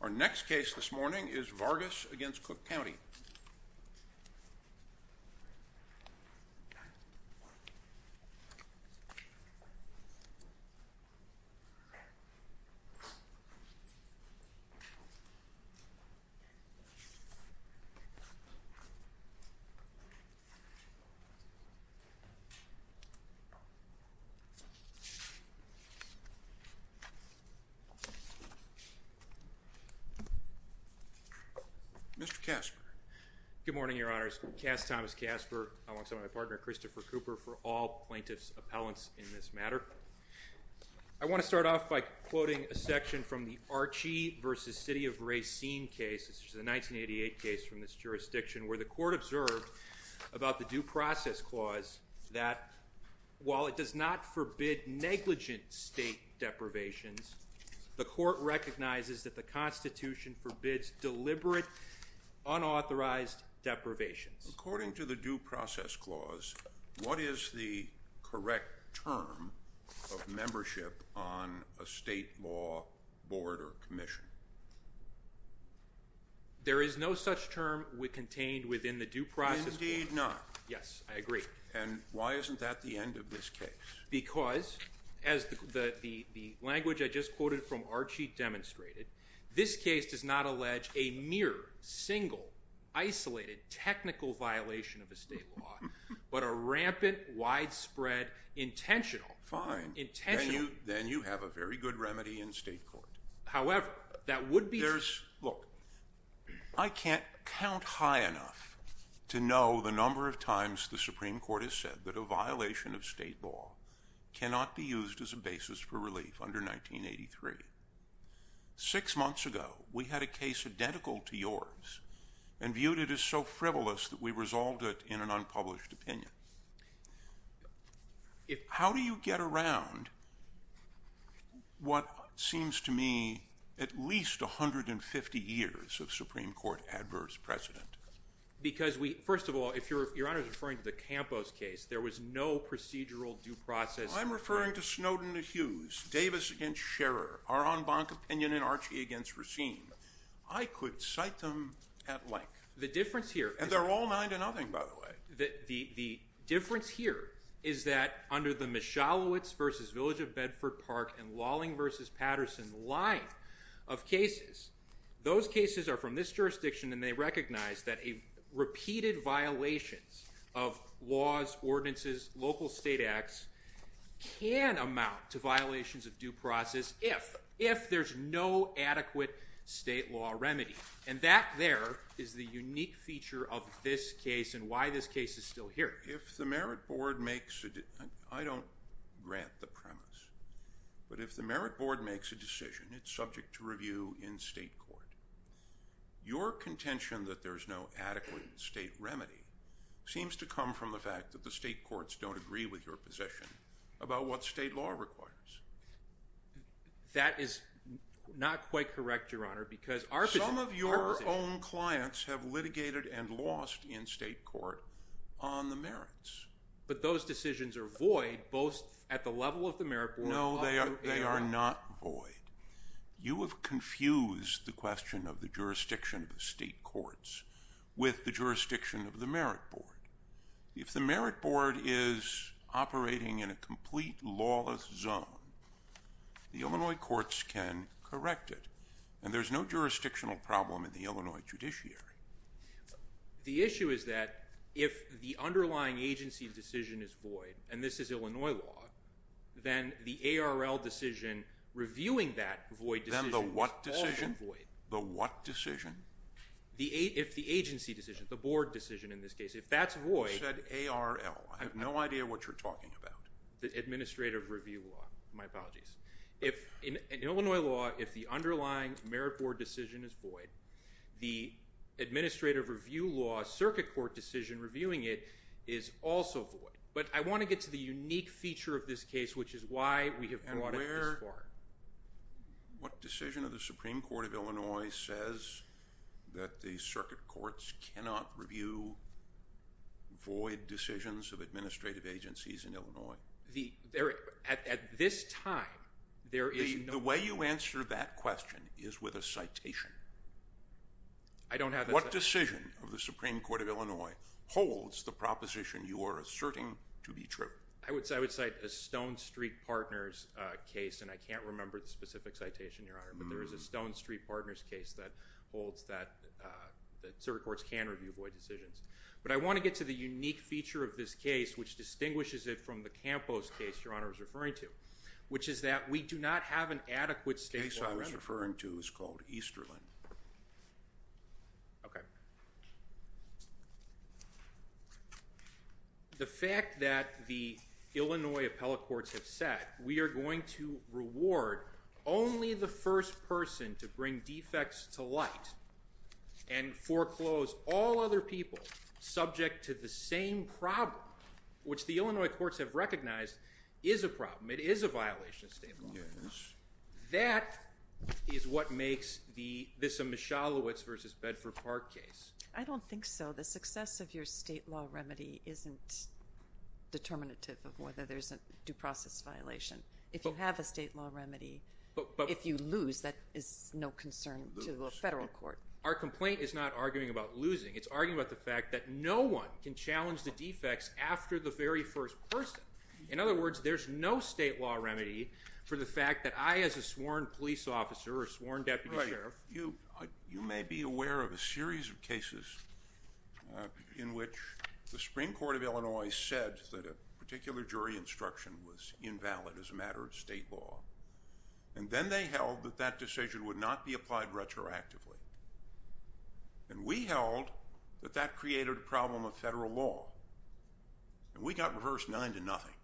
Our next case this morning is Vargas v. Cook County. Mr. Casper. Good morning, Your Honors. Cass Thomas Casper, alongside my partner Christopher Cooper, for all plaintiffs' appellants in this matter. I want to start off by quoting a section from the Archie v. City of Racine case, which is a 1988 case from this jurisdiction, where the court observed about the Due Process Clause that, while it does not forbid negligent state deprivations, the court recognizes that the Constitution forbids deliberate, unauthorized deprivations. According to the Due Process Clause, what is the correct term of membership on a state law board or commission? There is no such term contained within the Due Process Clause. Indeed not. Yes, I agree. And why isn't that the end of this case? Because, as the language I just quoted from Archie demonstrated, this case does not allege a mere, single, isolated, technical violation of a state law, but a rampant, widespread, intentional. Fine. Then you have a very good remedy in state court. However, that would be. Look, I can't count high enough to know the number of times the Supreme Court has said that a violation of state law cannot be used as a basis for relief under 1983. Six months ago, we had a case identical to yours and viewed it as so frivolous that we resolved it in an unpublished opinion. How do you get around what seems to me at least 150 years of Supreme Court adverse precedent? Because, first of all, if Your Honor is referring to the Campos case, there was no procedural due process. I'm referring to Snowden v. Hughes, Davis v. Scherer, Arambanc opinion, and Archie v. Racine. I could cite them at length. The difference here is. And they're all nine to nothing, by the way. The difference here is that under the Michalowicz v. Village of Bedford Park and Lawling v. Patterson line of cases, those cases are from this jurisdiction and they recognize that repeated violations of laws, ordinances, local state acts, can amount to violations of due process if there's no adequate state law remedy. And that there is the unique feature of this case and why this case is still here. If the Merit Board makes – I don't grant the premise – but if the Merit Board makes a decision, it's subject to review in state court, your contention that there's no adequate state remedy seems to come from the fact that the state courts don't agree with your position about what state law requires. That is not quite correct, Your Honor, because our position – Some of your own clients have litigated and lost in state court on the merits. But those decisions are void both at the level of the Merit Board – No, they are not void. You have confused the question of the jurisdiction of the state courts with the jurisdiction of the Merit Board. If the Merit Board is operating in a complete lawless zone, the Illinois courts can correct it, and there's no jurisdictional problem in the Illinois judiciary. The issue is that if the underlying agency decision is void, and this is Illinois law, then the ARL decision reviewing that void decision is also void. Then the what decision? The what decision? If the agency decision, the board decision in this case, if that's void – You said ARL. I have no idea what you're talking about. The administrative review law. My apologies. In Illinois law, if the underlying Merit Board decision is void, the administrative review law circuit court decision reviewing it is also void. But I want to get to the unique feature of this case, which is why we have brought it this far. What decision of the Supreme Court of Illinois says that the circuit courts cannot review void decisions of administrative agencies in Illinois? At this time, there is no – The way you answer that question is with a citation. I don't have a – What decision of the Supreme Court of Illinois holds the proposition you are asserting to be true? I would cite a Stone Street Partners case, and I can't remember the specific citation, Your Honor, but there is a Stone Street Partners case that holds that circuit courts can review void decisions. But I want to get to the unique feature of this case, which distinguishes it from the Campos case Your Honor was referring to, which is that we do not have an adequate statewide remedy. The case I was referring to is called Easterland. Okay. The fact that the Illinois appellate courts have said, we are going to reward only the first person to bring defects to light and foreclose all other people subject to the same problem, which the Illinois courts have recognized is a problem. It is a violation of state law. That is what makes this a Mischalowitz v. Bedford Park case. I don't think so. The success of your state law remedy isn't determinative of whether there is a due process violation. If you have a state law remedy, if you lose, that is no concern to a federal court. Our complaint is not arguing about losing. It is arguing about the fact that no one can challenge the defects after the very first person. In other words, there is no state law remedy for the fact that I, as a sworn police officer or sworn deputy sheriff You may be aware of a series of cases in which the Supreme Court of Illinois said that a particular jury instruction was invalid as a matter of state law. Then they held that that decision would not be applied retroactively. We held that that created a problem of federal law. We got reversed nine to nothing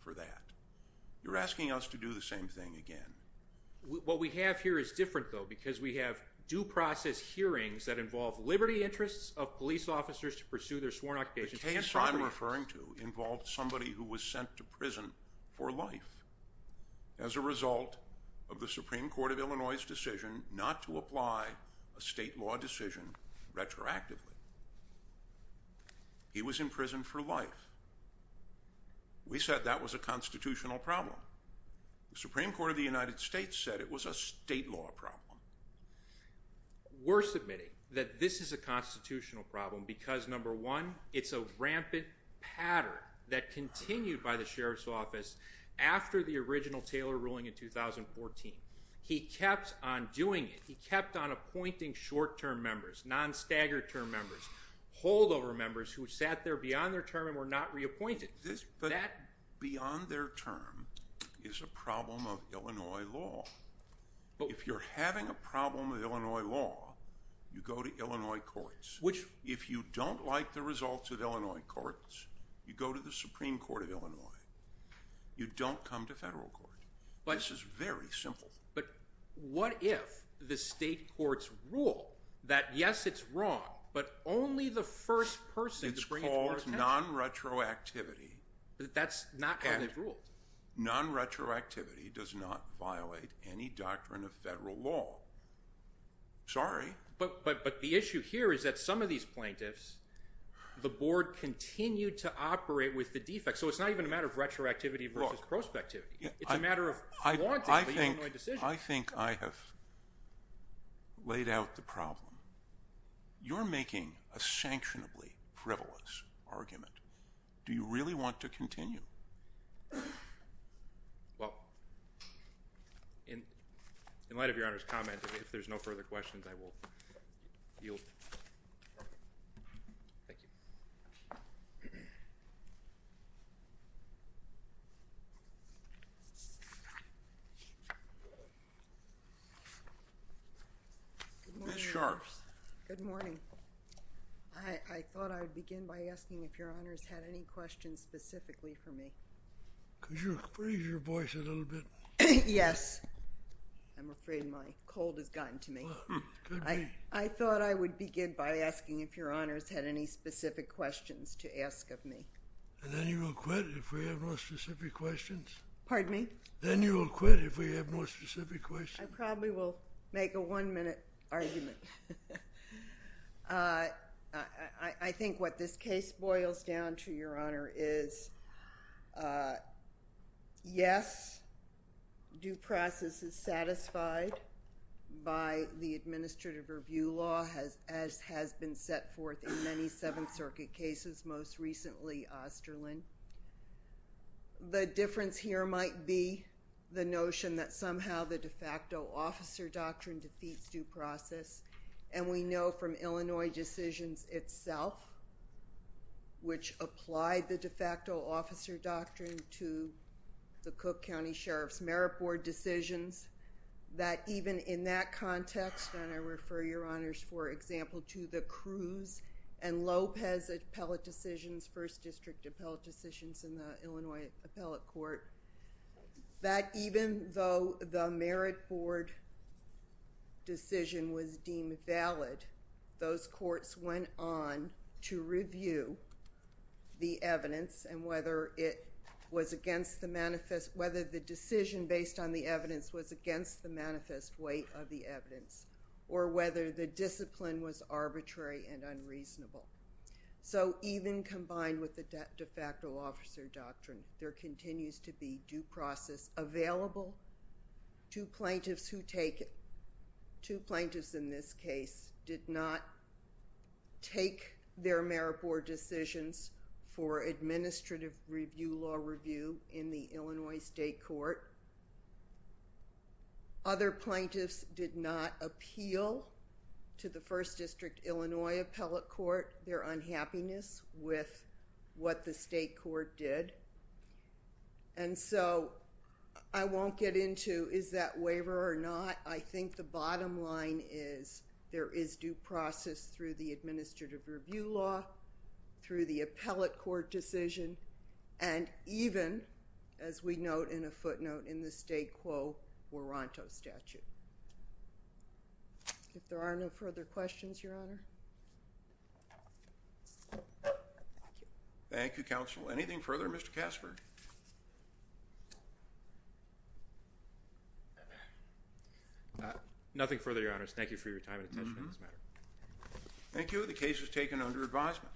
for that. You're asking us to do the same thing again. What we have here is different, though, because we have due process hearings that involve liberty interests of police officers to pursue their sworn occupations. The case I'm referring to involved somebody who was sent to prison for life as a result of the Supreme Court of Illinois' decision not to apply a state law decision retroactively. He was in prison for life. We said that was a constitutional problem. The Supreme Court of the United States said it was a state law problem. We're submitting that this is a constitutional problem because, number one, it's a rampant pattern that continued by the sheriff's office after the original Taylor ruling in 2014. He kept on doing it. He kept on appointing short-term members, non-staggered term members, holdover members who sat there beyond their term and were not reappointed. Beyond their term is a problem of Illinois law. If you're having a problem with Illinois law, you go to Illinois courts. If you don't like the results of Illinois courts, you go to the Supreme Court of Illinois. You don't come to federal court. This is very simple. But what if the state courts rule that, yes, it's wrong, but only the first person to bring it to our attention? It's called non-retroactivity. That's not how they've ruled. Non-retroactivity does not violate any doctrine of federal law. Sorry. But the issue here is that some of these plaintiffs, the board continued to operate with the defects. So it's not even a matter of retroactivity versus prospectivity. It's a matter of wanting the Illinois decision. I think I have laid out the problem. You're making a sanctionably frivolous argument. Do you really want to continue? Well, in light of Your Honor's comment, if there's no further questions, I will yield. Thank you. Ms. Sharps. Good morning. I thought I would begin by asking if Your Honor's had any questions specifically for me. Could you raise your voice a little bit? Yes. I'm afraid my cold has gotten to me. I thought I would begin by asking if Your Honor's had any specific questions to ask of me. And then you will quit if we have no specific questions? Pardon me? Then you will quit if we have no specific questions? I probably will make a one-minute argument. I think what this case boils down to, Your Honor, is yes, due process is satisfied by the administrative review law, as has been set forth in many Seventh Circuit cases, most recently Osterlin. The difference here might be the notion that somehow the de facto officer doctrine defeats due process. And we know from Illinois decisions itself, which applied the de facto officer doctrine to the Cook County Sheriff's Merit Board decisions, that even in that context, and I refer Your Honor's, for example, to the Cruz and Lopez appellate decisions, first district appellate decisions in the Illinois appellate court, that even though the merit board decision was deemed valid, those courts went on to review the evidence and whether the decision based on the evidence was against the manifest weight of the evidence or whether the discipline was arbitrary and unreasonable. So even combined with the de facto officer doctrine, there continues to be due process available. Two plaintiffs who take... two plaintiffs in this case did not take their merit board decisions for administrative review law review in the Illinois state court. Other plaintiffs did not appeal to the first district Illinois appellate court their unhappiness with what the state court did. And so I won't get into is that waiver or not. I think the bottom line is there is due process through the administrative review law, through the appellate court decision, and even, as we note in a footnote in the state quo, Warranto statute. If there are no further questions, Your Honor. Thank you, Counsel. Anything further, Mr. Casford? Nothing further, Your Honors. Thank you for your time and attention on this matter. Thank you. The case is taken under advisement.